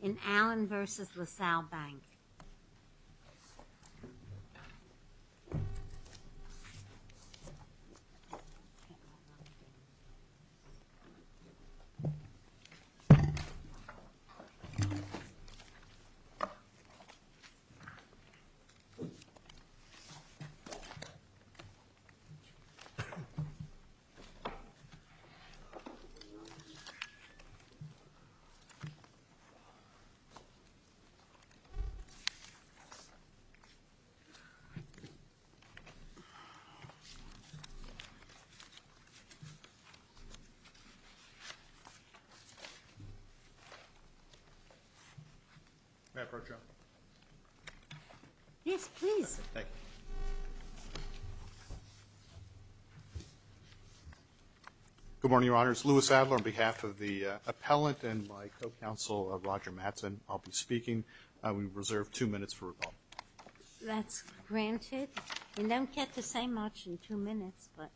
In Allen v. LaSalle Bank. The Good morning, Your Honors. Louis Adler on behalf of the appellant and my co-counsel, Roger Mattson, I'll be speaking. We reserve two minutes for rebuttal. That's granted. We don't get to say much in two minutes, but.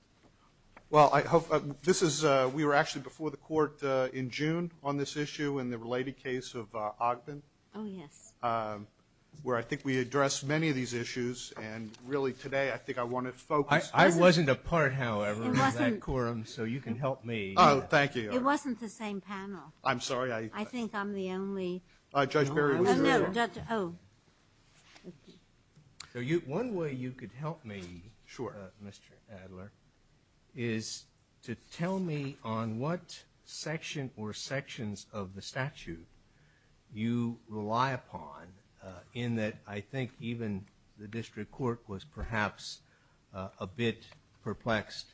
Well, I hope, this is, we were actually before the court in June on this issue in the related case of Ogden. Oh, yes. Where I think we addressed many of these issues and really today I think I want to focus. I wasn't a part, however, of that quorum, so you can help me. Oh, thank you. It wasn't the same panel. I'm sorry. I think I'm the only. Judge Berry was there. Oh, no. One way you could help me, Mr. Adler, is to tell me on what section or sections of the statute you rely upon in that I think even the district court was perhaps a bit perplexed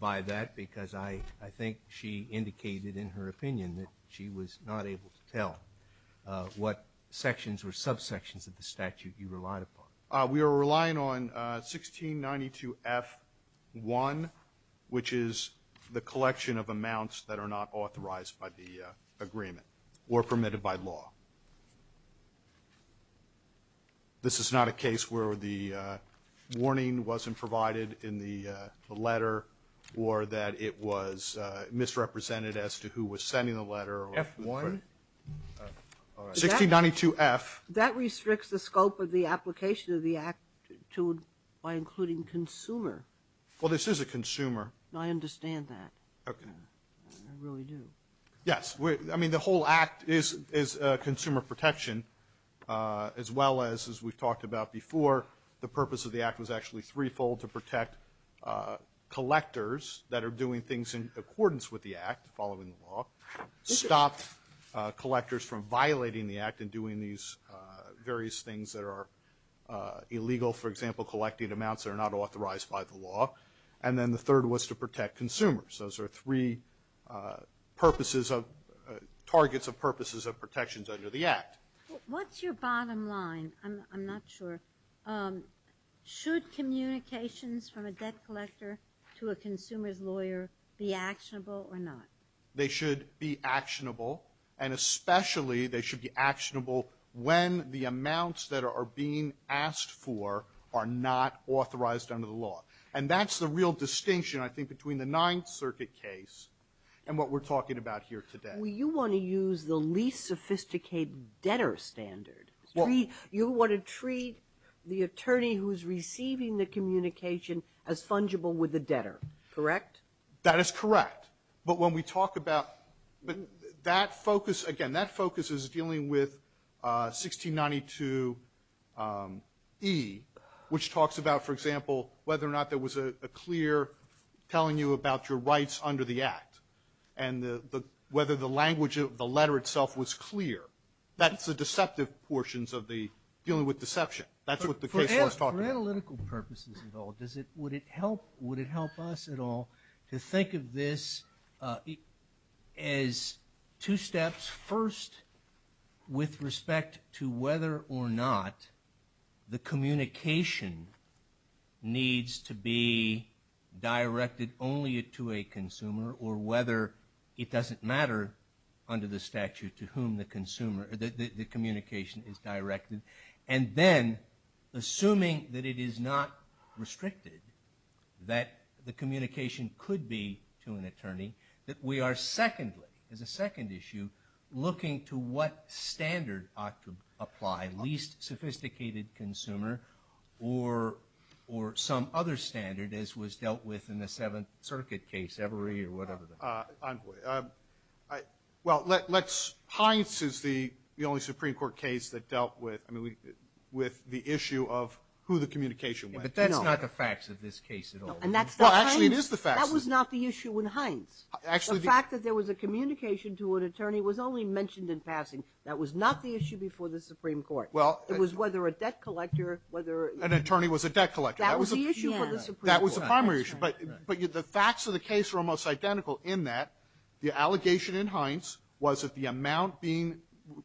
by that because I think she indicated in her opinion that she was not able to tell what sections or subsections of the statute you relied upon. We are relying on 1692F1, which is the collection of amounts that are not authorized by the agreement or permitted by law. This is not a case where the warning wasn't provided in the letter or that it was misrepresented as to who was sending the letter. F1? 1692F. That restricts the scope of the application of the act by including consumer. Well, this is a consumer. I understand that. Okay. I really do. Yes. I mean, the whole act is consumer protection as well as, as we've talked about before, the purpose of the act was actually threefold to protect collectors that are doing things in accordance with the act following the law, stop collectors from violating the act and doing these various things that are illegal, for example, collecting amounts that are not authorized by the law, and then the third was to protect consumers. Those are three purposes of, targets of purposes of protections under the act. What's your bottom line? I'm not sure. Should communications from a debt collector to a consumer's lawyer be actionable or not? They should be actionable, and especially they should be actionable when the amounts that are being asked for are not authorized under the law. And that's the real distinction, I think, between the Ninth Circuit case and what we're talking about here today. Well, you want to use the least sophisticated debtor standard. You want to treat the attorney who's receiving the communication as fungible with the debtor, correct? That is correct. But when we talk about that focus, again, that focus is dealing with 1692E, which talks about, for example, whether or not there was a clear telling you about your rights under the act, and whether the language of the letter itself was clear. That's the deceptive portions of the dealing with deception. That's what the case law is talking about. For analytical purposes at all, would it help us at all to think of this as two steps, first with respect to whether or not the communication needs to be directed only to a consumer, or whether it doesn't matter under the statute to whom the communication is directed, and then assuming that it is not restricted, that the communication could be to an attorney, that we are secondly, as a second issue, looking to what standard ought to apply, least sophisticated consumer or some other standard as was dealt with in the Seventh Circuit case, Everey or whatever the hell. Well, Heinz is the only Supreme Court case that dealt with the issue of who the communication went to. But that's not the facts of this case at all. Well, actually, it is the facts. That was not the issue in Heinz. Actually, the fact that there was a communication to an attorney was only mentioned in passing. That was not the issue before the Supreme Court. Well, it was whether a debt collector, whether an attorney was a debt collector. That was the issue for the Supreme Court. That was the primary issue. But the facts of the case were almost identical in that the allegation in Heinz was that the amount being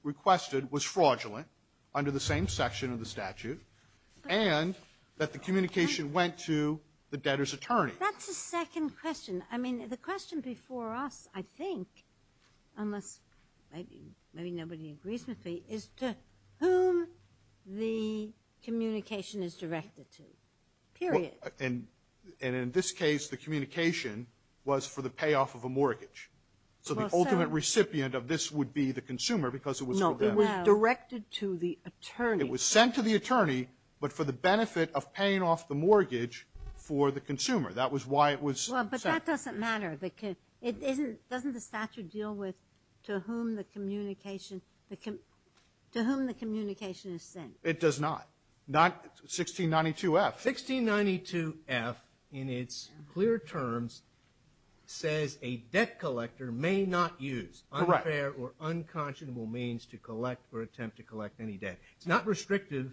requested was fraudulent under the same section of the statute, and that the communication went to the debtor's attorney. That's the second question. I mean, the question before us, I think, unless maybe nobody agrees with me, is to whom the communication is directed to, period. And in this case, the communication was for the payoff of a mortgage. So the ultimate recipient of this would be the consumer because it was for them. No, it was directed to the attorney. It was sent to the attorney, but for the benefit of paying off the mortgage for the consumer. That was why it was sent. Well, but that doesn't matter. Doesn't the statute deal with to whom the communication is sent? It does not. 1692F. 1692F, in its clear terms, says a debt collector may not use unfair or unconscionable means to collect or attempt to collect any debt. It's not restrictive.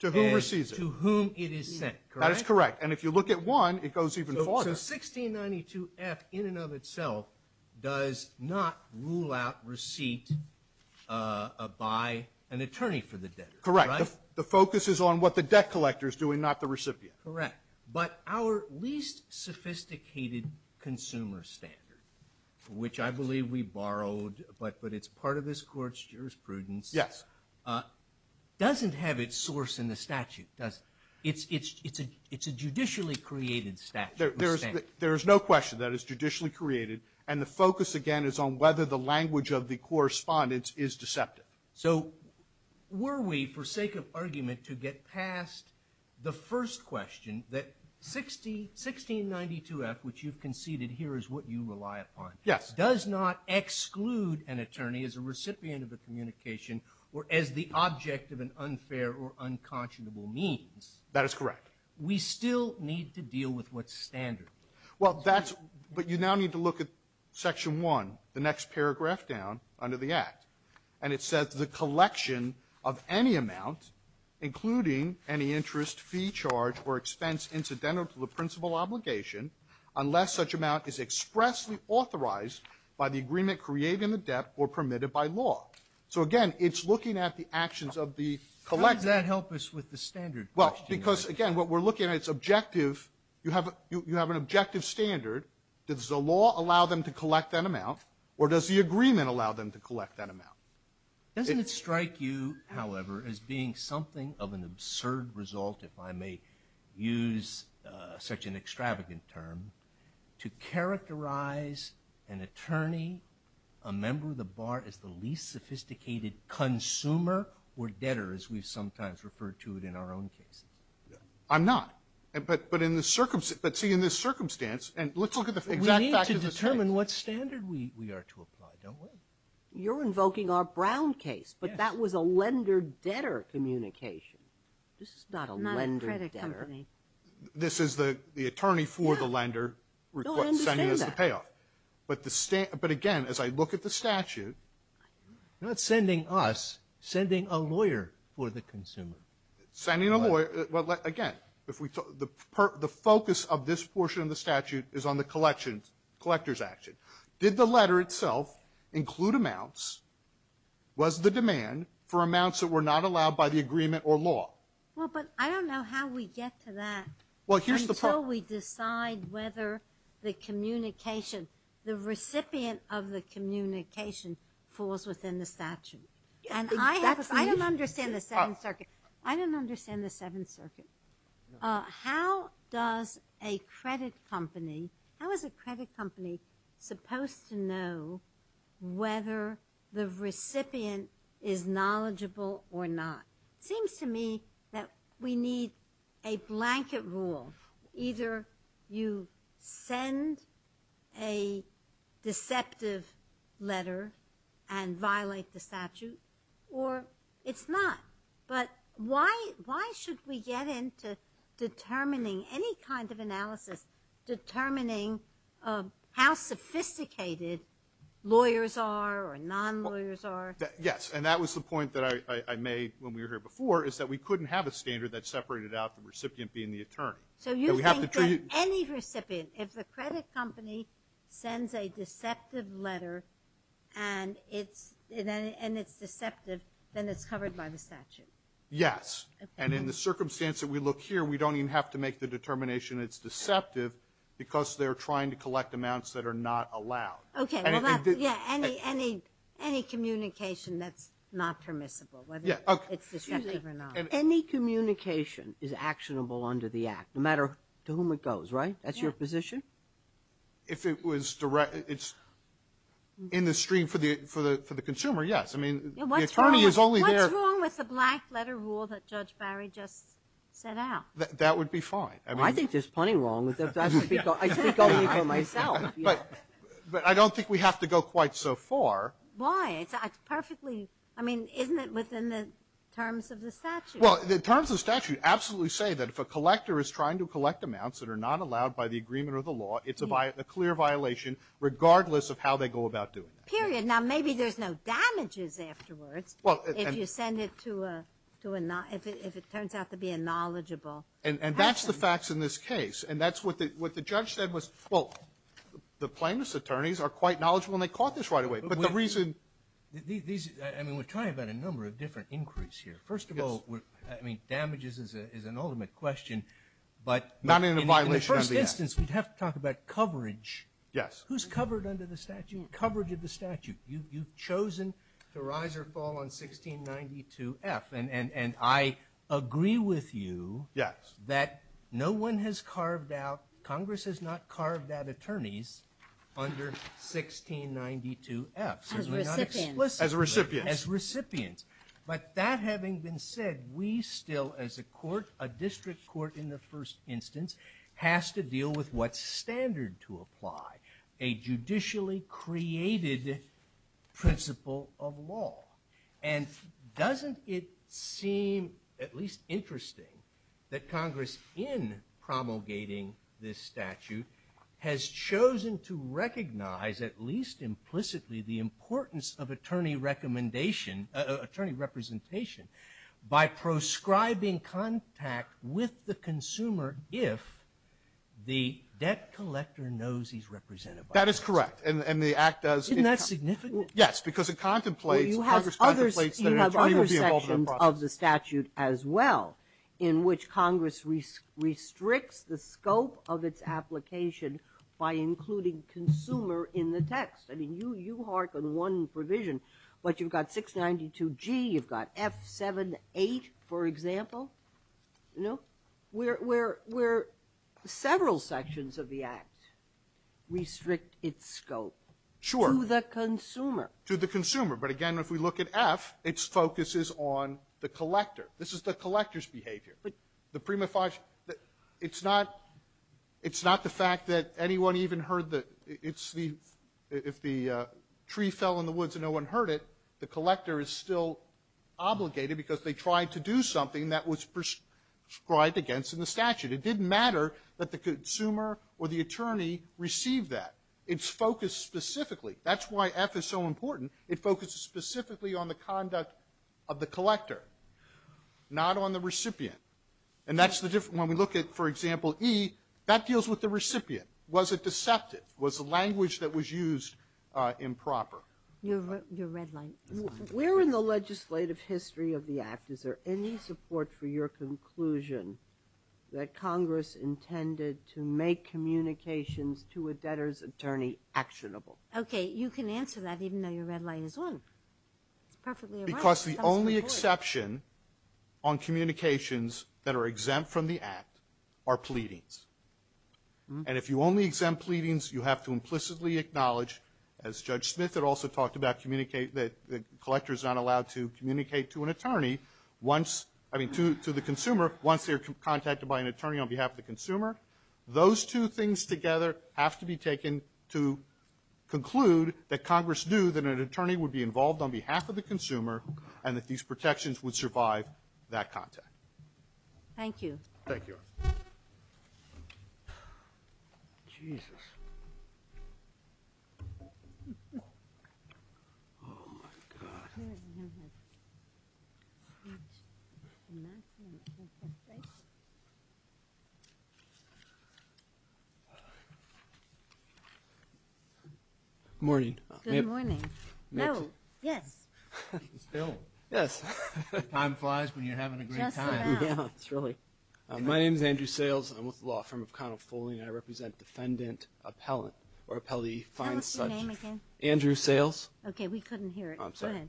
To whom it is sent. That is correct. And if you look at one, it goes even farther. So 1692F, in and of itself, does not rule out receipt by an attorney for the debtor. Correct. The focus is on what the debt collector is doing, not the recipient. Correct. But our least sophisticated consumer standard, which I believe we borrowed, but it's part of this Court's jurisprudence, doesn't have its source in the statute. It's a judicially created statute. There is no question that it's judicially created. And the focus, again, is on whether the language of the correspondence is deceptive. So were we, for sake of argument, to get past the first question, that 1692F, which you've conceded here is what you rely upon, does not exclude an attorney as a recipient of the communication or as the object of an unfair or unconscionable means. That is correct. We still need to deal with what's standard. Well, that's what you now need to look at Section 1, the next paragraph down under the Act. And it says the collection of any amount, including any interest, fee, charge, or expense incidental to the principal obligation, unless such amount is expressly So, again, it's looking at the actions of the collector. How does that help us with the standard question? Well, because, again, what we're looking at is objective. You have an objective standard. Does the law allow them to collect that amount, or does the agreement allow them to collect that amount? Doesn't it strike you, however, as being something of an absurd result, if I may use such an extravagant term, to characterize an attorney, a member of the bar, as the least sophisticated consumer or debtor, as we sometimes refer to it in our own cases? I'm not. But, see, in this circumstance, and let's look at the exact facts of the case. We need to determine what standard we are to apply, don't we? You're invoking our Brown case, but that was a lender-debtor communication. This is not a lender-debtor. Not a credit company. This is the attorney for the lender sending us the payoff. No, I understand that. But, again, as I look at the statute. You're not sending us. You're sending a lawyer for the consumer. Sending a lawyer. Well, again, the focus of this portion of the statute is on the collector's action. Did the letter itself include amounts? Was the demand for amounts that were not allowed by the agreement or law? Well, but I don't know how we get to that. Well, here's the problem. Until we decide whether the communication, the recipient of the communication, falls within the statute. And I don't understand the Seventh Circuit. I don't understand the Seventh Circuit. How does a credit company, how is a credit company supposed to know whether the recipient is knowledgeable or not? It seems to me that we need a blanket rule. Either you send a deceptive letter and violate the statute or it's not. But why should we get into determining any kind of analysis, determining how sophisticated lawyers are or non-lawyers are? Yes. And that was the point that I made when we were here before is that we couldn't have a standard that separated out the recipient being the attorney. So you think that any recipient, if the credit company sends a deceptive letter and it's Yes. And in the circumstance that we look here, we don't even have to make the determination it's deceptive because they're trying to collect amounts that are not allowed. Okay. Yeah. Any communication that's not permissible, whether it's deceptive or not. Excuse me. Any communication is actionable under the Act, no matter to whom it goes, right? That's your position? If it was direct, it's in the stream for the consumer, yes. I mean, the attorney is only there. What's wrong with the black letter rule that Judge Barry just set out? That would be fine. I think there's plenty wrong with it. I speak only for myself. But I don't think we have to go quite so far. Why? It's perfectly, I mean, isn't it within the terms of the statute? Well, the terms of the statute absolutely say that if a collector is trying to collect amounts that are not allowed by the agreement or the law, it's a clear violation, regardless of how they go about doing that. Period. Now, maybe there's no damages afterwards if you send it to a, if it turns out to be a knowledgeable person. And that's the facts in this case. And that's what the judge said was, well, the plaintiff's attorneys are quite knowledgeable and they caught this right away. But the reason these, I mean, we're talking about a number of different inquiries here. First of all, I mean, damages is an ultimate question, but in the first instance we'd have to talk about coverage. Yes. Who's covered under the statute? Coverage of the statute. You've chosen to rise or fall on 1692F. And I agree with you that no one has carved out, Congress has not carved out attorneys under 1692F. As recipients. As recipients. As recipients. But that having been said, we still, as a court, a district court in the first instance, has to deal with what standard to apply. A judicially created principle of law. And doesn't it seem at least interesting that Congress in promulgating this statute has chosen to recognize at least implicitly the importance of attorney recommendation, attorney representation, by proscribing contact with the consumer if the debt collector knows he's represented by the consumer. That is correct. And the act does. Isn't that significant? Yes, because it contemplates, Congress contemplates that an attorney will be involved in the process. Well, you have other sections of the statute as well in which Congress restricts the scope of its application by including consumer in the text. I mean, you hark on one provision, but you've got 692G, you've got F78, for example, you know, where several sections of the act restrict its scope. Sure. To the consumer. To the consumer. But again, if we look at F, its focus is on the collector. This is the collector's behavior. The prima facie, it's not, it's not the fact that anyone even heard the, it's the, if the tree fell in the woods and no one heard it, the collector is still obligated because they tried to do something that was prescribed against in the statute. It didn't matter that the consumer or the attorney received that. It's focused specifically. That's why F is so important. It focuses specifically on the conduct of the collector, not on the recipient. And that's the difference. When we look at, for example, E, that deals with the recipient. Was it deceptive? Was the language that was used improper? Your red light. Where in the legislative history of the act is there any support for your conclusion that Congress intended to make communications to a debtor's attorney actionable? Okay. You can answer that even though your red light is on. It's perfectly all right. Because the only exception on communications that are exempt from the act are pleadings. And if you only exempt pleadings, you have to implicitly acknowledge, as Judge Smith had also talked about, communicate that the collector is not allowed to communicate to an attorney once, I mean, to the consumer, once they're contacted by an attorney on behalf of the consumer. Those two things together have to be taken to conclude that Congress knew that an attorney would be involved on behalf of the consumer and that these protections would survive that contact. Thank you. Thank you. Jesus. Oh, my God. Good morning. Good morning. No, yes. Still? Yes. Time flies when you're having a great time. Just about. Yeah, it's really. My name is Andrew Sayles. I'm with the law firm of Connell Foley and I represent defendant appellant or appellee find such. What's your name again? Andrew Sayles. Okay. We couldn't hear it. I'm sorry.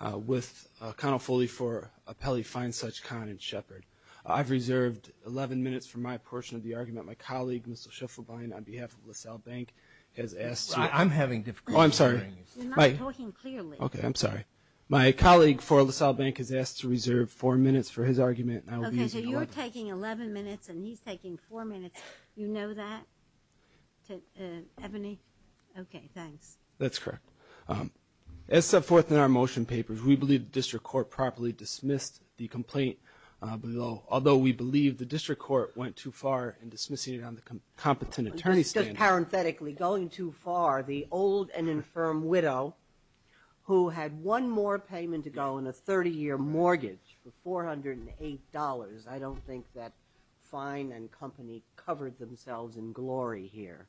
Go ahead. With Connell Foley for appellee find such con in Shepard. I've reserved 11 minutes for my portion of the argument. My colleague, Mr. Schifflebein, on behalf of LaSalle Bank has asked to. I'm having difficulty hearing you. Oh, I'm sorry. You're not talking clearly. Okay. I'm sorry. My colleague for LaSalle Bank has asked to reserve four minutes for his argument. Okay. So you're taking 11 minutes and he's taking four minutes. You know that? Ebony? Okay. Thanks. That's correct. As set forth in our motion papers, we believe the district court properly dismissed the complaint although we believe the district court went too far in dismissing it on the competent attorney stand. Parenthetically, going too far, the old and infirm widow who had one more payment to go on a 30-year mortgage for $408. I don't think that fine and company covered themselves in glory here.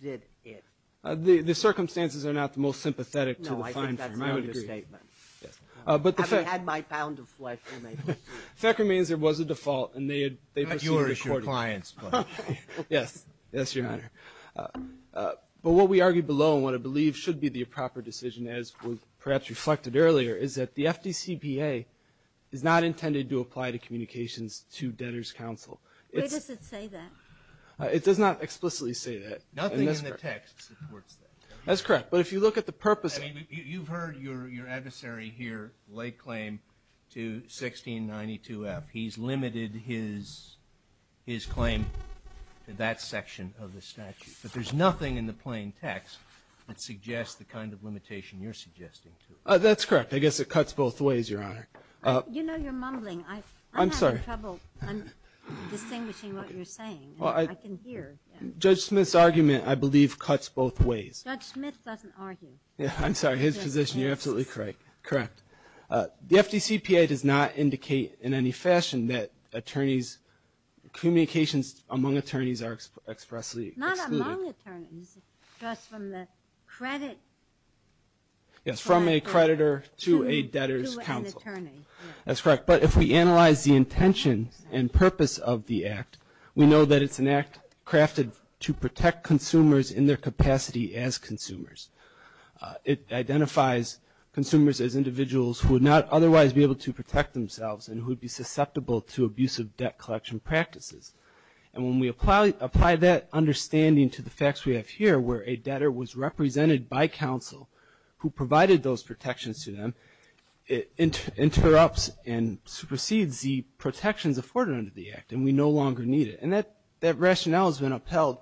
Did it? The circumstances are not the most sympathetic to the fine. No, I think that's an understatement. I would agree. Yes. But the fact. I've had my pound of flesh. The fact remains there was a default and they had. But you are your client's client. Yes. Yes, Your Honor. But what we argue below and what I believe should be the proper decision as was perhaps reflected earlier is that the FDCPA is not intended to apply to communications to debtor's counsel. Where does it say that? It does not explicitly say that. Nothing in the text supports that. That's correct. But if you look at the purpose. I mean, you've heard your adversary here lay claim to 1692F. He's limited his claim to that section of the statute. But there's nothing in the plain text that suggests the kind of limitation you're suggesting. That's correct. I guess it cuts both ways, Your Honor. You know you're mumbling. I'm sorry. I'm having trouble distinguishing what you're saying. I can hear. Judge Smith's argument, I believe, cuts both ways. Judge Smith doesn't argue. I'm sorry. His position. You're absolutely correct. The FDCPA does not indicate in any fashion that communications among attorneys are expressly excluded. Not among attorneys, just from the credit. Yes, from a creditor to a debtor's counsel. To an attorney, yes. That's correct. But if we analyze the intention and purpose of the Act, we know that it's an Act crafted to protect consumers in their capacity as consumers. It identifies consumers as individuals who would not otherwise be able to protect themselves and who would be susceptible to abusive debt collection practices. And when we apply that understanding to the facts we have here, where a debtor was represented by counsel who provided those protections to them, it interrupts and supersedes the protections afforded under the Act, and we no longer need it. And that rationale has been upheld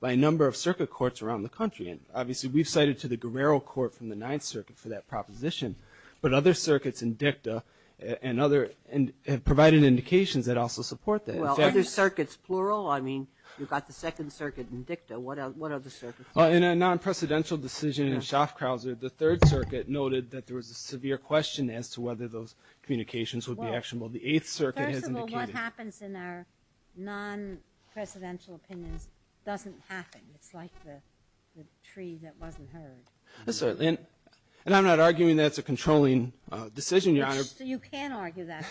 by a number of circuit courts around the country. And obviously we've cited to the Guerrero Court from the Ninth Circuit for that proposition, but other circuits in DICTA and other have provided indications that also support that. Well, other circuits, plural? I mean, you've got the Second Circuit in DICTA. What other circuits? Well, in a non-presidential decision in Schaffkrause, the Third Circuit noted that there was a severe question as to whether those communications would be actionable. The Eighth Circuit has indicated. Well, first of all, what happens in our non-presidential opinions doesn't happen. It's like the tree that wasn't heard. Yes, certainly. And I'm not arguing that's a controlling decision, Your Honor. You can argue that,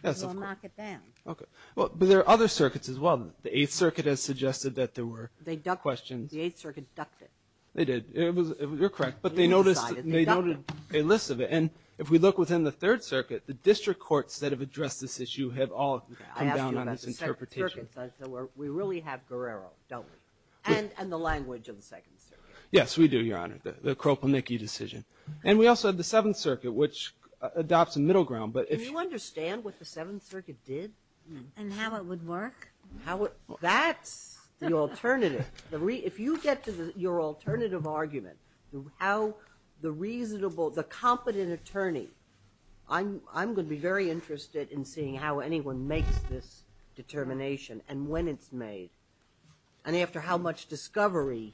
because we'll knock it down. Yes, of course. Okay. But there are other circuits as well. The Eighth Circuit has suggested that there were questions. They ducked it. The Eighth Circuit ducked it. They did. You're correct. But they noted a list of it. And if we look within the Third Circuit, the district courts that have addressed this issue have all come down on its interpretation. We really have Guerrero, don't we? And the language of the Second Circuit. Yes, we do, Your Honor, the Kroponicki decision. And we also have the Seventh Circuit, which adopts a middle ground. Can you understand what the Seventh Circuit did? And how it would work? That's the alternative. If you get to your alternative argument, how the reasonable, the competent attorney I'm going to be very interested in seeing how anyone makes this determination and when it's made and after how much discovery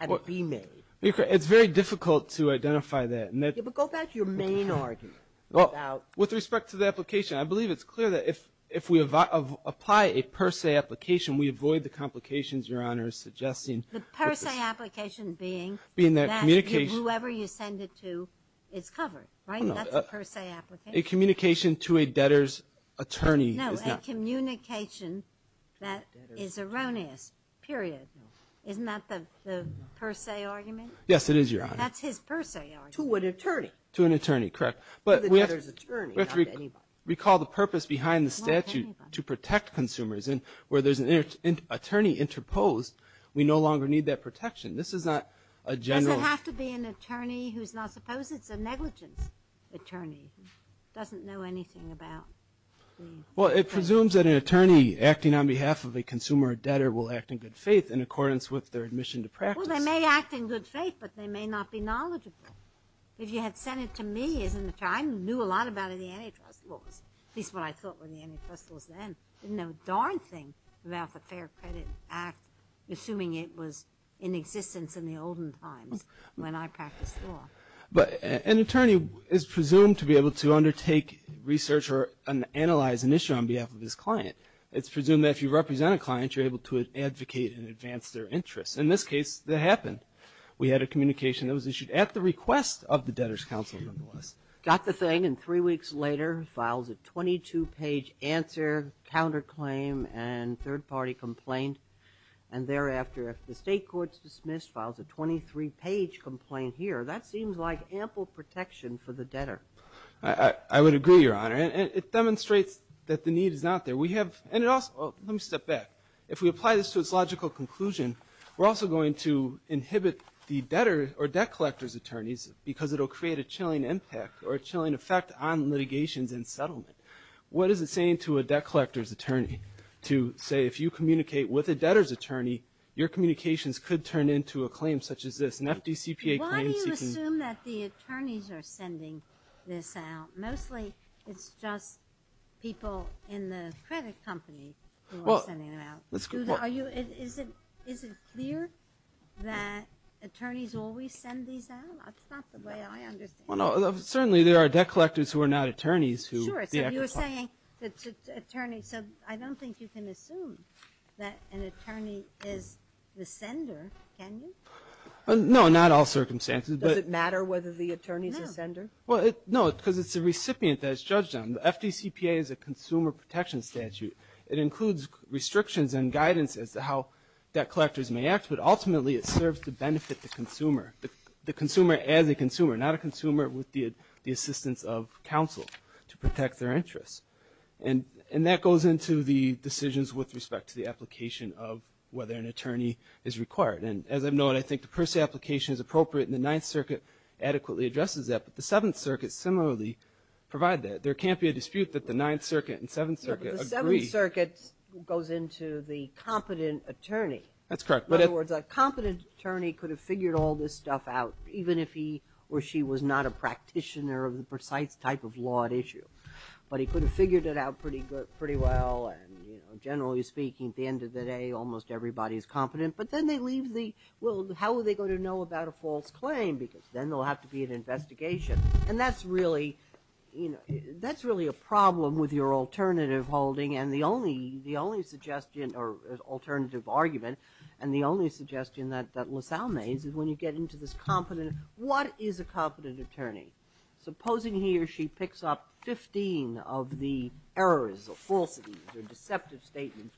can it be made. It's very difficult to identify that. Yeah, but go back to your main argument. With respect to the application, I believe it's clear that if we apply a per se application, we avoid the complications Your Honor is suggesting. The per se application being that whoever you send it to is covered, right? That's a per se application. A communication to a debtor's attorney is not. No, a communication that is erroneous, period. Isn't that the per se argument? Yes, it is, Your Honor. That's his per se argument. To an attorney. To an attorney, correct. But we have to recall the purpose behind the statute to protect consumers. Where there's an attorney interposed, we no longer need that protection. This is not a general. Does it have to be an attorney who's not supposed? It's a negligence attorney who doesn't know anything about the. Well, it presumes that an attorney acting on behalf of a consumer or debtor will act in good faith in accordance with their admission to practice. Well, they may act in good faith, but they may not be knowledgeable. If you had sent it to me as an attorney, I knew a lot about the antitrust laws, at least what I thought were the antitrust laws then. I didn't know a darn thing about the Fair Credit Act, assuming it was in existence in the olden times when I practiced law. But an attorney is presumed to be able to undertake research or analyze an issue on behalf of his client. It's presumed that if you represent a client, you're able to advocate and advance their interests. In this case, that happened. We had a communication that was issued at the request of the debtor's counsel, nonetheless. Got the thing, and three weeks later, files a 22-page answer, counterclaim, and third-party complaint. And thereafter, if the State court's dismissed, files a 23-page complaint here. That seems like ample protection for the debtor. I would agree, Your Honor. It demonstrates that the need is not there. We have, and it also, let me step back. If we apply this to its logical conclusion, we're also going to inhibit the debtor or debt collector's attorneys because it will create a chilling impact or a chilling effect on litigations and settlement. What is it saying to a debt collector's attorney to say, if you communicate with a debtor's attorney, your communications could turn into a claim such as this, an FDCPA claim. Why do you assume that the attorneys are sending this out? Mostly it's just people in the credit company who are sending it out. Is it clear that attorneys always send these out? That's not the way I understand it. Certainly there are debt collectors who are not attorneys. Sure. You're saying that attorneys, so I don't think you can assume that an attorney is the sender, can you? No, not all circumstances. Does it matter whether the attorney is the sender? No, because it's a recipient that is judged on. The FDCPA is a consumer protection statute. It includes restrictions and guidance as to how debt collectors may act, but ultimately it serves to benefit the consumer, the consumer as a consumer, not a consumer with the assistance of counsel to protect their interests. And that goes into the decisions with respect to the application of whether an attorney is required. And as I've known, I think the Percy application is appropriate and the Ninth Circuit adequately addresses that, but the Seventh Circuit similarly provides that. There can't be a dispute that the Ninth Circuit and Seventh Circuit agree. The Ninth Circuit goes into the competent attorney. That's correct. In other words, a competent attorney could have figured all this stuff out, even if he or she was not a practitioner of the precise type of law at issue. But he could have figured it out pretty well, and generally speaking at the end of the day almost everybody is competent. But then they leave the, well, how would they go to know about a false claim? Because then there will have to be an investigation. And that's really a problem with your alternative holding and the only suggestion or alternative argument and the only suggestion that LaSalle makes is when you get into this competent, what is a competent attorney? Supposing he or she picks up 15 of the errors or falsities or deceptive statements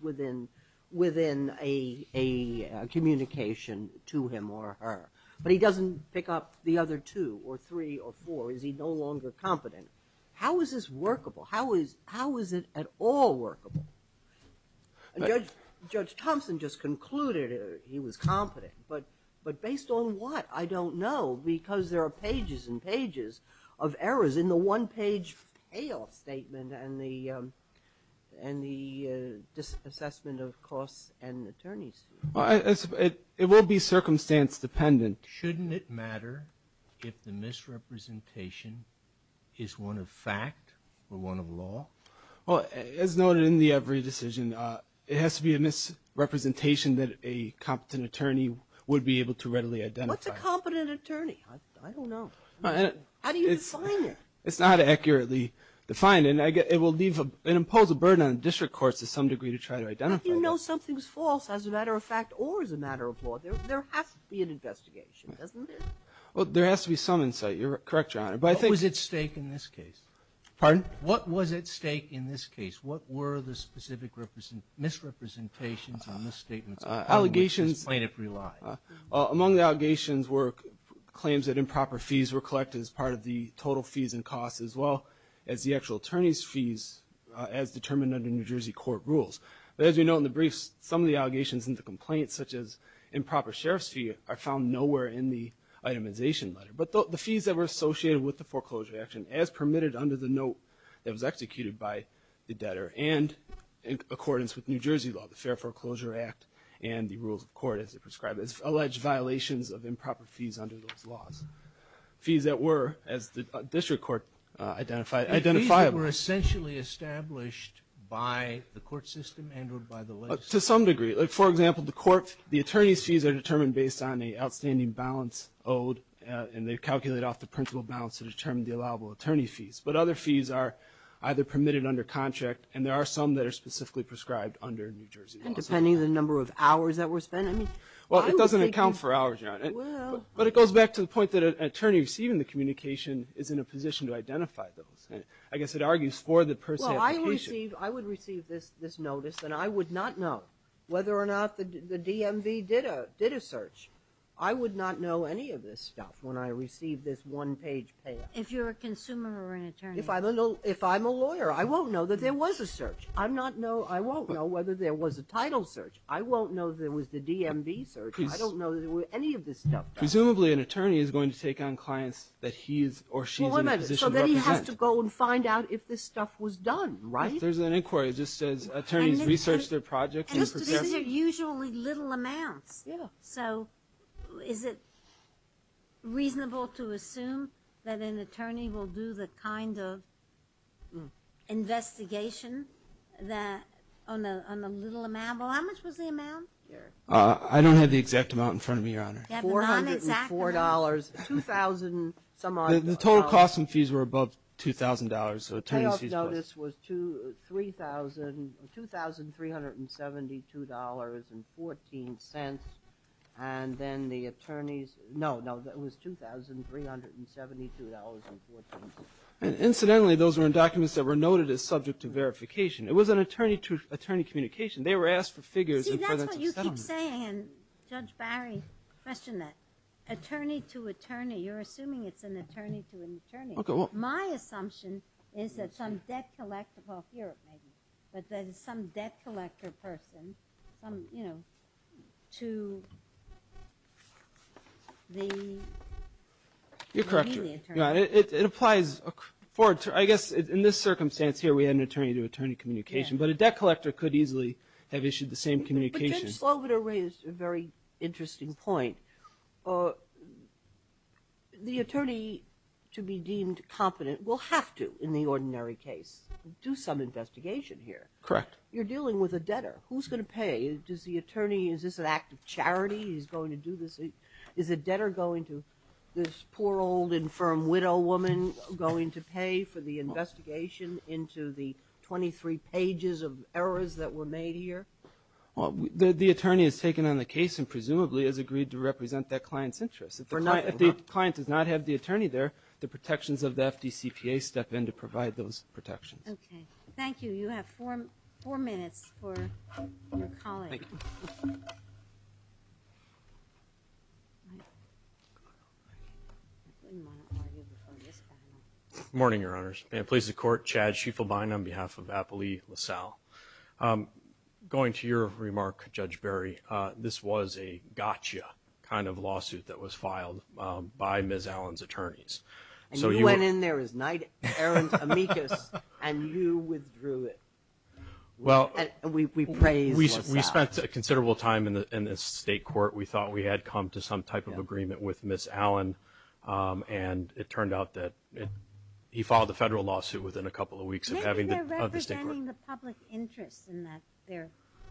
within a communication to him or her, but he doesn't pick up the other two or three or four, is he no longer competent? How is this workable? How is it at all workable? Judge Thompson just concluded he was competent. But based on what? I don't know because there are pages and pages of errors in the one-page payoff statement and the assessment of costs and attorneys. It will be circumstance dependent. And shouldn't it matter if the misrepresentation is one of fact or one of law? Well, as noted in the Every Decision, it has to be a misrepresentation that a competent attorney would be able to readily identify. What's a competent attorney? I don't know. How do you define it? It's not accurately defined. And it will leave and impose a burden on district courts to some degree to try to identify them. There has to be an investigation, doesn't it? Well, there has to be some insight. You're correct, Your Honor. What was at stake in this case? Pardon? What was at stake in this case? What were the specific misrepresentations and misstatements that this plaintiff relied on? Among the allegations were claims that improper fees were collected as part of the total fees and costs as well as the actual attorney's fees as determined under New Jersey court rules. But as we know in the briefs, some of the allegations and the complaints, such as improper sheriff's fee, are found nowhere in the itemization letter. But the fees that were associated with the foreclosure action as permitted under the note that was executed by the debtor and in accordance with New Jersey law, the Fair Foreclosure Act and the rules of court as they're prescribed, as alleged violations of improper fees under those laws. Fees that were, as the district court identified, identifiable. Fees that were essentially established by the court system and or by the legislature. To some degree. For example, the court, the attorney's fees are determined based on an outstanding balance owed and they calculate off the principal balance to determine the allowable attorney fees. But other fees are either permitted under contract and there are some that are specifically prescribed under New Jersey law. And depending on the number of hours that were spent? Well, it doesn't account for hours, Your Honor. Well. But it goes back to the point that an attorney receiving the communication is in a position to identify those. I guess it argues for the person's application. Well, I would receive this notice and I would not know whether or not the DMV did a search. I would not know any of this stuff when I received this one-page payout. If you're a consumer or an attorney. If I'm a lawyer, I won't know that there was a search. I won't know whether there was a title search. I won't know that it was the DMV search. I don't know that any of this stuff does. Presumably an attorney is going to take on clients that he or she is in a position to represent. So then he has to go and find out if this stuff was done, right? There's an inquiry. It just says attorneys research their projects. And this is usually little amounts. Yeah. So is it reasonable to assume that an attorney will do the kind of investigation on a little amount? Well, how much was the amount here? I don't have the exact amount in front of me, Your Honor. You have the non-exact amount? $404. $2,000-some-odd. The total costs and fees were above $2,000. Payoff notice was $2,372.14. And then the attorneys – no, no, it was $2,372.14. Incidentally, those were in documents that were noted as subject to verification. It was an attorney-to-attorney communication. They were asked for figures in the presence of settlement. See, that's what you keep saying, and Judge Barry questioned that. Attorney-to-attorney. You're assuming it's an attorney-to-attorney. Okay. My assumption is that some debt collector – well, here it may be. But there's some debt collector person, you know, to be the attorney. You're correct, Your Honor. It applies for – I guess in this circumstance here we had an attorney-to-attorney communication. But a debt collector could easily have issued the same communication. Judge Sloboda raised a very interesting point. The attorney, to be deemed competent, will have to, in the ordinary case, do some investigation here. Correct. You're dealing with a debtor. Who's going to pay? Does the attorney – is this an act of charity? He's going to do this. Is a debtor going to – this poor old infirm widow woman going to pay for the investigation into the 23 pages of errors that were made here? Well, the attorney has taken on the case and presumably has agreed to represent that client's interests. If the client does not have the attorney there, the protections of the FDCPA step in to provide those protections. Okay. Thank you. You have four minutes for calling. Thank you. Good morning, Your Honors. And it pleases the Court, Chad Schieffelbein on behalf of Apolli LaSalle. Going to your remark, Judge Berry, this was a gotcha kind of lawsuit that was filed by Ms. Allen's attorneys. And you went in there as knight errant amicus and you withdrew it. We praise LaSalle. We spent a considerable time in the state court. We thought we had come to some type of agreement with Ms. Allen. And it turned out that he filed a federal lawsuit within a couple of weeks of having the state court. Maybe they're representing the public interest in that.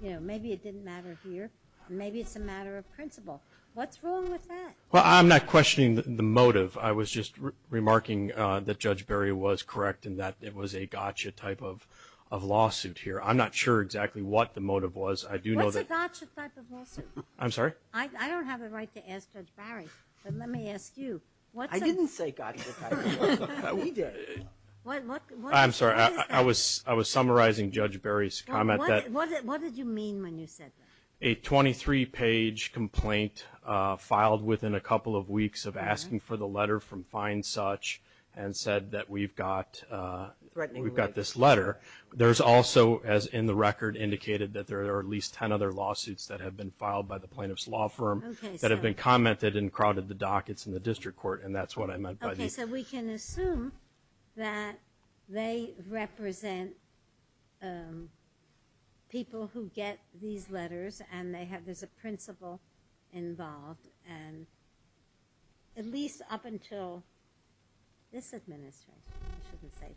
Maybe it didn't matter here. Maybe it's a matter of principle. What's wrong with that? Well, I'm not questioning the motive. I was just remarking that Judge Berry was correct in that it was a gotcha type of lawsuit here. I'm not sure exactly what the motive was. What's a gotcha type of lawsuit? I'm sorry? I don't have a right to ask Judge Berry. But let me ask you. I didn't say gotcha type of lawsuit. We did. I'm sorry. I was summarizing Judge Berry's comment. What did you mean when you said that? A 23-page complaint filed within a couple of weeks of asking for the letter from find such and said that we've got this letter. There's also, as in the record, indicated that there are at least ten other lawsuits that have been filed by the plaintiff's law firm that have been commented and crowded the dockets in the district court. And that's what I meant by these. Okay. So we can assume that they represent people who get these letters and there's a principle involved. And at least up until this administration, I shouldn't say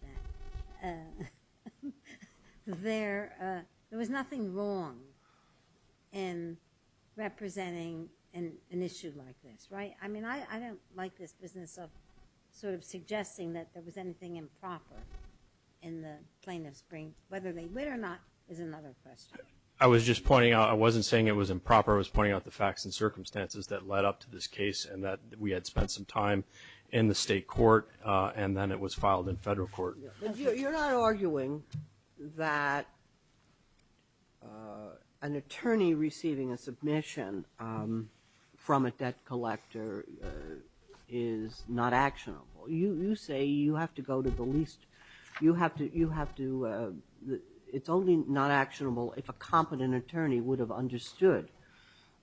that, there was nothing wrong in representing an issue like this, right? I mean, I don't like this business of sort of suggesting that there was anything improper in the plaintiff's brief. Whether they win or not is another question. I was just pointing out. I wasn't saying it was improper. I was pointing out the facts and circumstances that led up to this case and that we had spent some time in the state court and then it was filed in federal court. You're not arguing that an attorney receiving a submission from a debt collector is not actionable. You say you have to go to the least. You have to – it's only not actionable if a competent attorney would have understood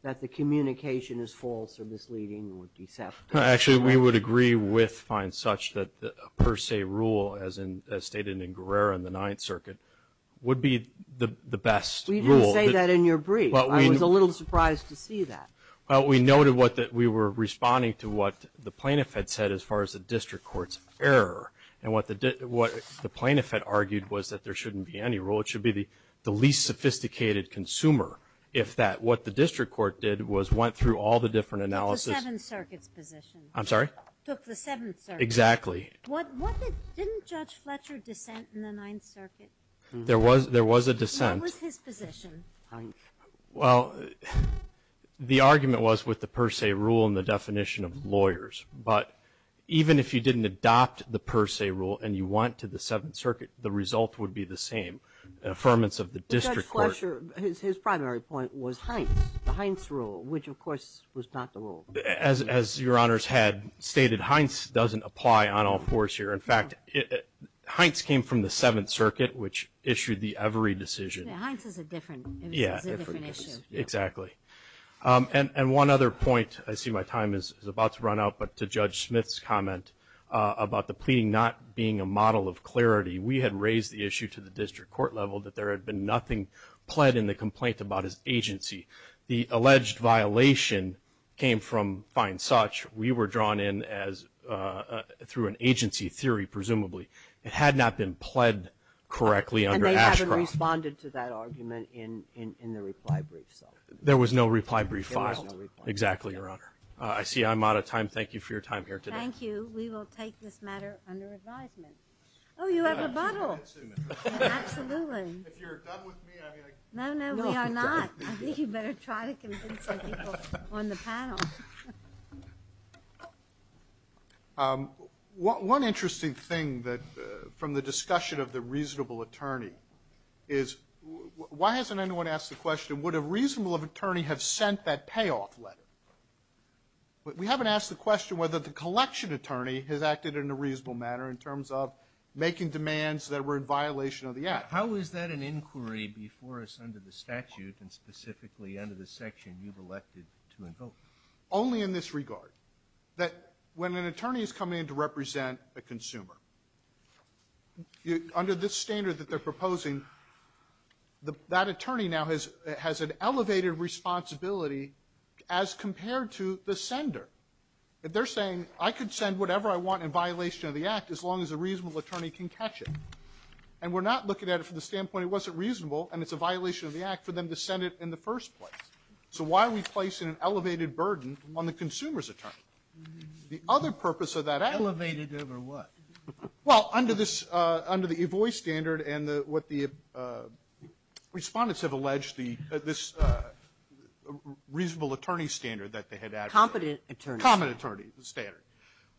that the communication is false or misleading or deceptive. Actually, we would agree with fine such that a per se rule, as stated in Guerrero in the Ninth Circuit, would be the best rule. We didn't say that in your brief. I was a little surprised to see that. Well, we noted that we were responding to what the plaintiff had said as far as the district court's error. And what the plaintiff had argued was that there shouldn't be any rule. It should be the least sophisticated consumer, if that. What the district court did was went through all the different analysis. Took the Seventh Circuit's position. I'm sorry? Took the Seventh Circuit. Exactly. Didn't Judge Fletcher dissent in the Ninth Circuit? There was a dissent. What was his position? Well, the argument was with the per se rule and the definition of lawyers. But even if you didn't adopt the per se rule and you went to the Seventh Circuit, the result would be the same. Affirmance of the district court. Judge Fletcher, his primary point was Heinz, the Heinz rule, which, of course, was not the rule. As Your Honor's had stated, Heinz doesn't apply on all fours here. In fact, Heinz came from the Seventh Circuit, which issued the Avery decision. Heinz is a different issue. Exactly. And one other point, I see my time is about to run out, but to Judge Smith's comment about the pleading not being a model of clarity, we had raised the issue to the district court level that there had been nothing pled in the complaint about his agency. The alleged violation came from fine such. We were drawn in through an agency theory, presumably. It had not been pled correctly under Ashcroft. And they haven't responded to that argument in the reply brief, so. There was no reply brief filed. There was no reply brief. Exactly, Your Honor. I see I'm out of time. Thank you for your time here today. Thank you. We will take this matter under advisement. Oh, you have rebuttal. Absolutely. If you're done with me, I mean, I can go. No, no, we are not. I think you better try to convince the people on the panel. One interesting thing from the discussion of the reasonable attorney is, why hasn't anyone asked the question, would a reasonable attorney have sent that payoff letter? We haven't asked the question whether the collection attorney has acted in a reasonable manner in terms of making demands that were in violation of the act. How is that an inquiry before us under the statute and specifically under the section you've elected to invoke? Only in this regard, that when an attorney is coming in to represent a consumer, under this standard that they're proposing, that attorney now has an elevated responsibility as compared to the sender. They're saying, I could send whatever I want in violation of the act as long as a reasonable attorney can catch it. And we're not looking at it from the standpoint it wasn't reasonable and it's a violation of the act for them to send it in the first place. So why are we placing an elevated burden on the consumer's attorney? The other purpose of that act. Elevated over what? Well, under this, under the EVOI standard and what the Respondents have alleged, this reasonable attorney standard that they had added. Competent attorney. Competent attorney standard.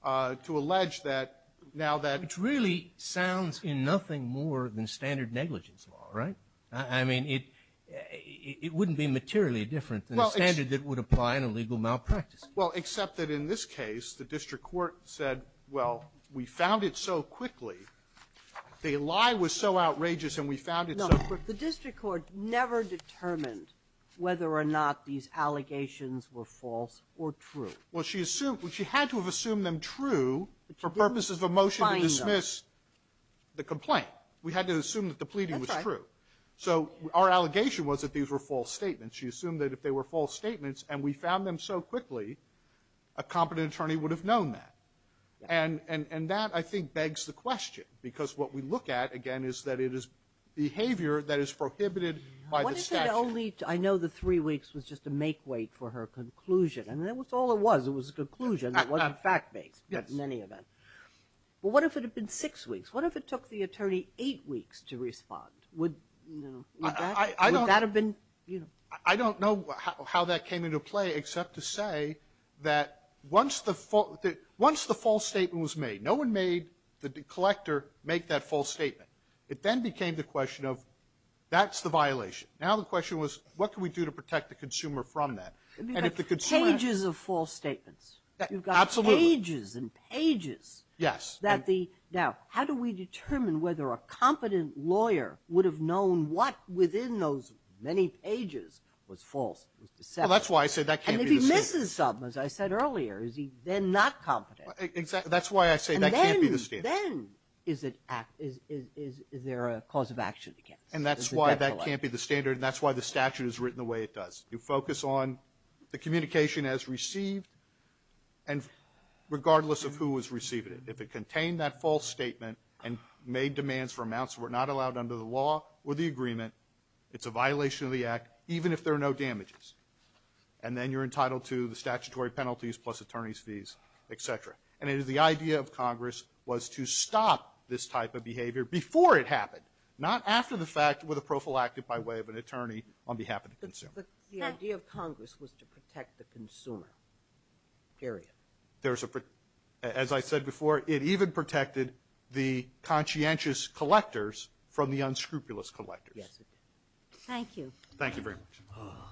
To allege that now that. It really sounds in nothing more than standard negligence law, right? I mean, it wouldn't be materially different than the standard that would apply in a legal malpractice case. Well, except that in this case, the district court said, well, we found it so quickly. The lie was so outrageous and we found it so quickly. No, but the district court never determined whether or not these allegations were false or true. Well, she assumed, she had to have assumed them true for purposes of a motion to dismiss the complaint. We had to assume that the pleading was true. So our allegation was that these were false statements. She assumed that if they were false statements and we found them so quickly, a competent attorney would have known that. And that, I think, begs the question. Because what we look at, again, is that it is behavior that is prohibited by the statute. What if it only, I know the three weeks was just a make-weight for her conclusion. And that was all it was. It was a conclusion. It wasn't fact-based in any event. But what if it had been six weeks? What if it took the attorney eight weeks to respond? Would that have been, you know? I don't know how that came into play except to say that once the false statement was made, no one made the collector make that false statement. It then became the question of, that's the violation. Now the question was, what can we do to protect the consumer from that? It would be like pages of false statements. Absolutely. You've got pages and pages. Yes. Now, how do we determine whether a competent lawyer would have known what within those many pages was false, was deceptive? Well, that's why I say that can't be the standard. And if he misses something, as I said earlier, is he then not competent? Exactly. That's why I say that can't be the standard. And then, then, is it act, is there a cause of action against? And that's why that can't be the standard, and that's why the statute is written the way it does. You focus on the communication as received, and regardless of who is receiving it, if it contained that false statement and made demands for amounts that were not allowed under the law or the agreement, it's a violation of the act, even if there are no damages. And then you're entitled to the statutory penalties plus attorney's fees, et cetera. And it is the idea of Congress was to stop this type of behavior before it happened, not after the fact with a prophylactic by way of an attorney on behalf of the consumer. But the idea of Congress was to protect the consumer, period. There's a, as I said before, it even protected the conscientious collectors from the unscrupulous collectors. Yes, it did. Thank you. Thank you very much.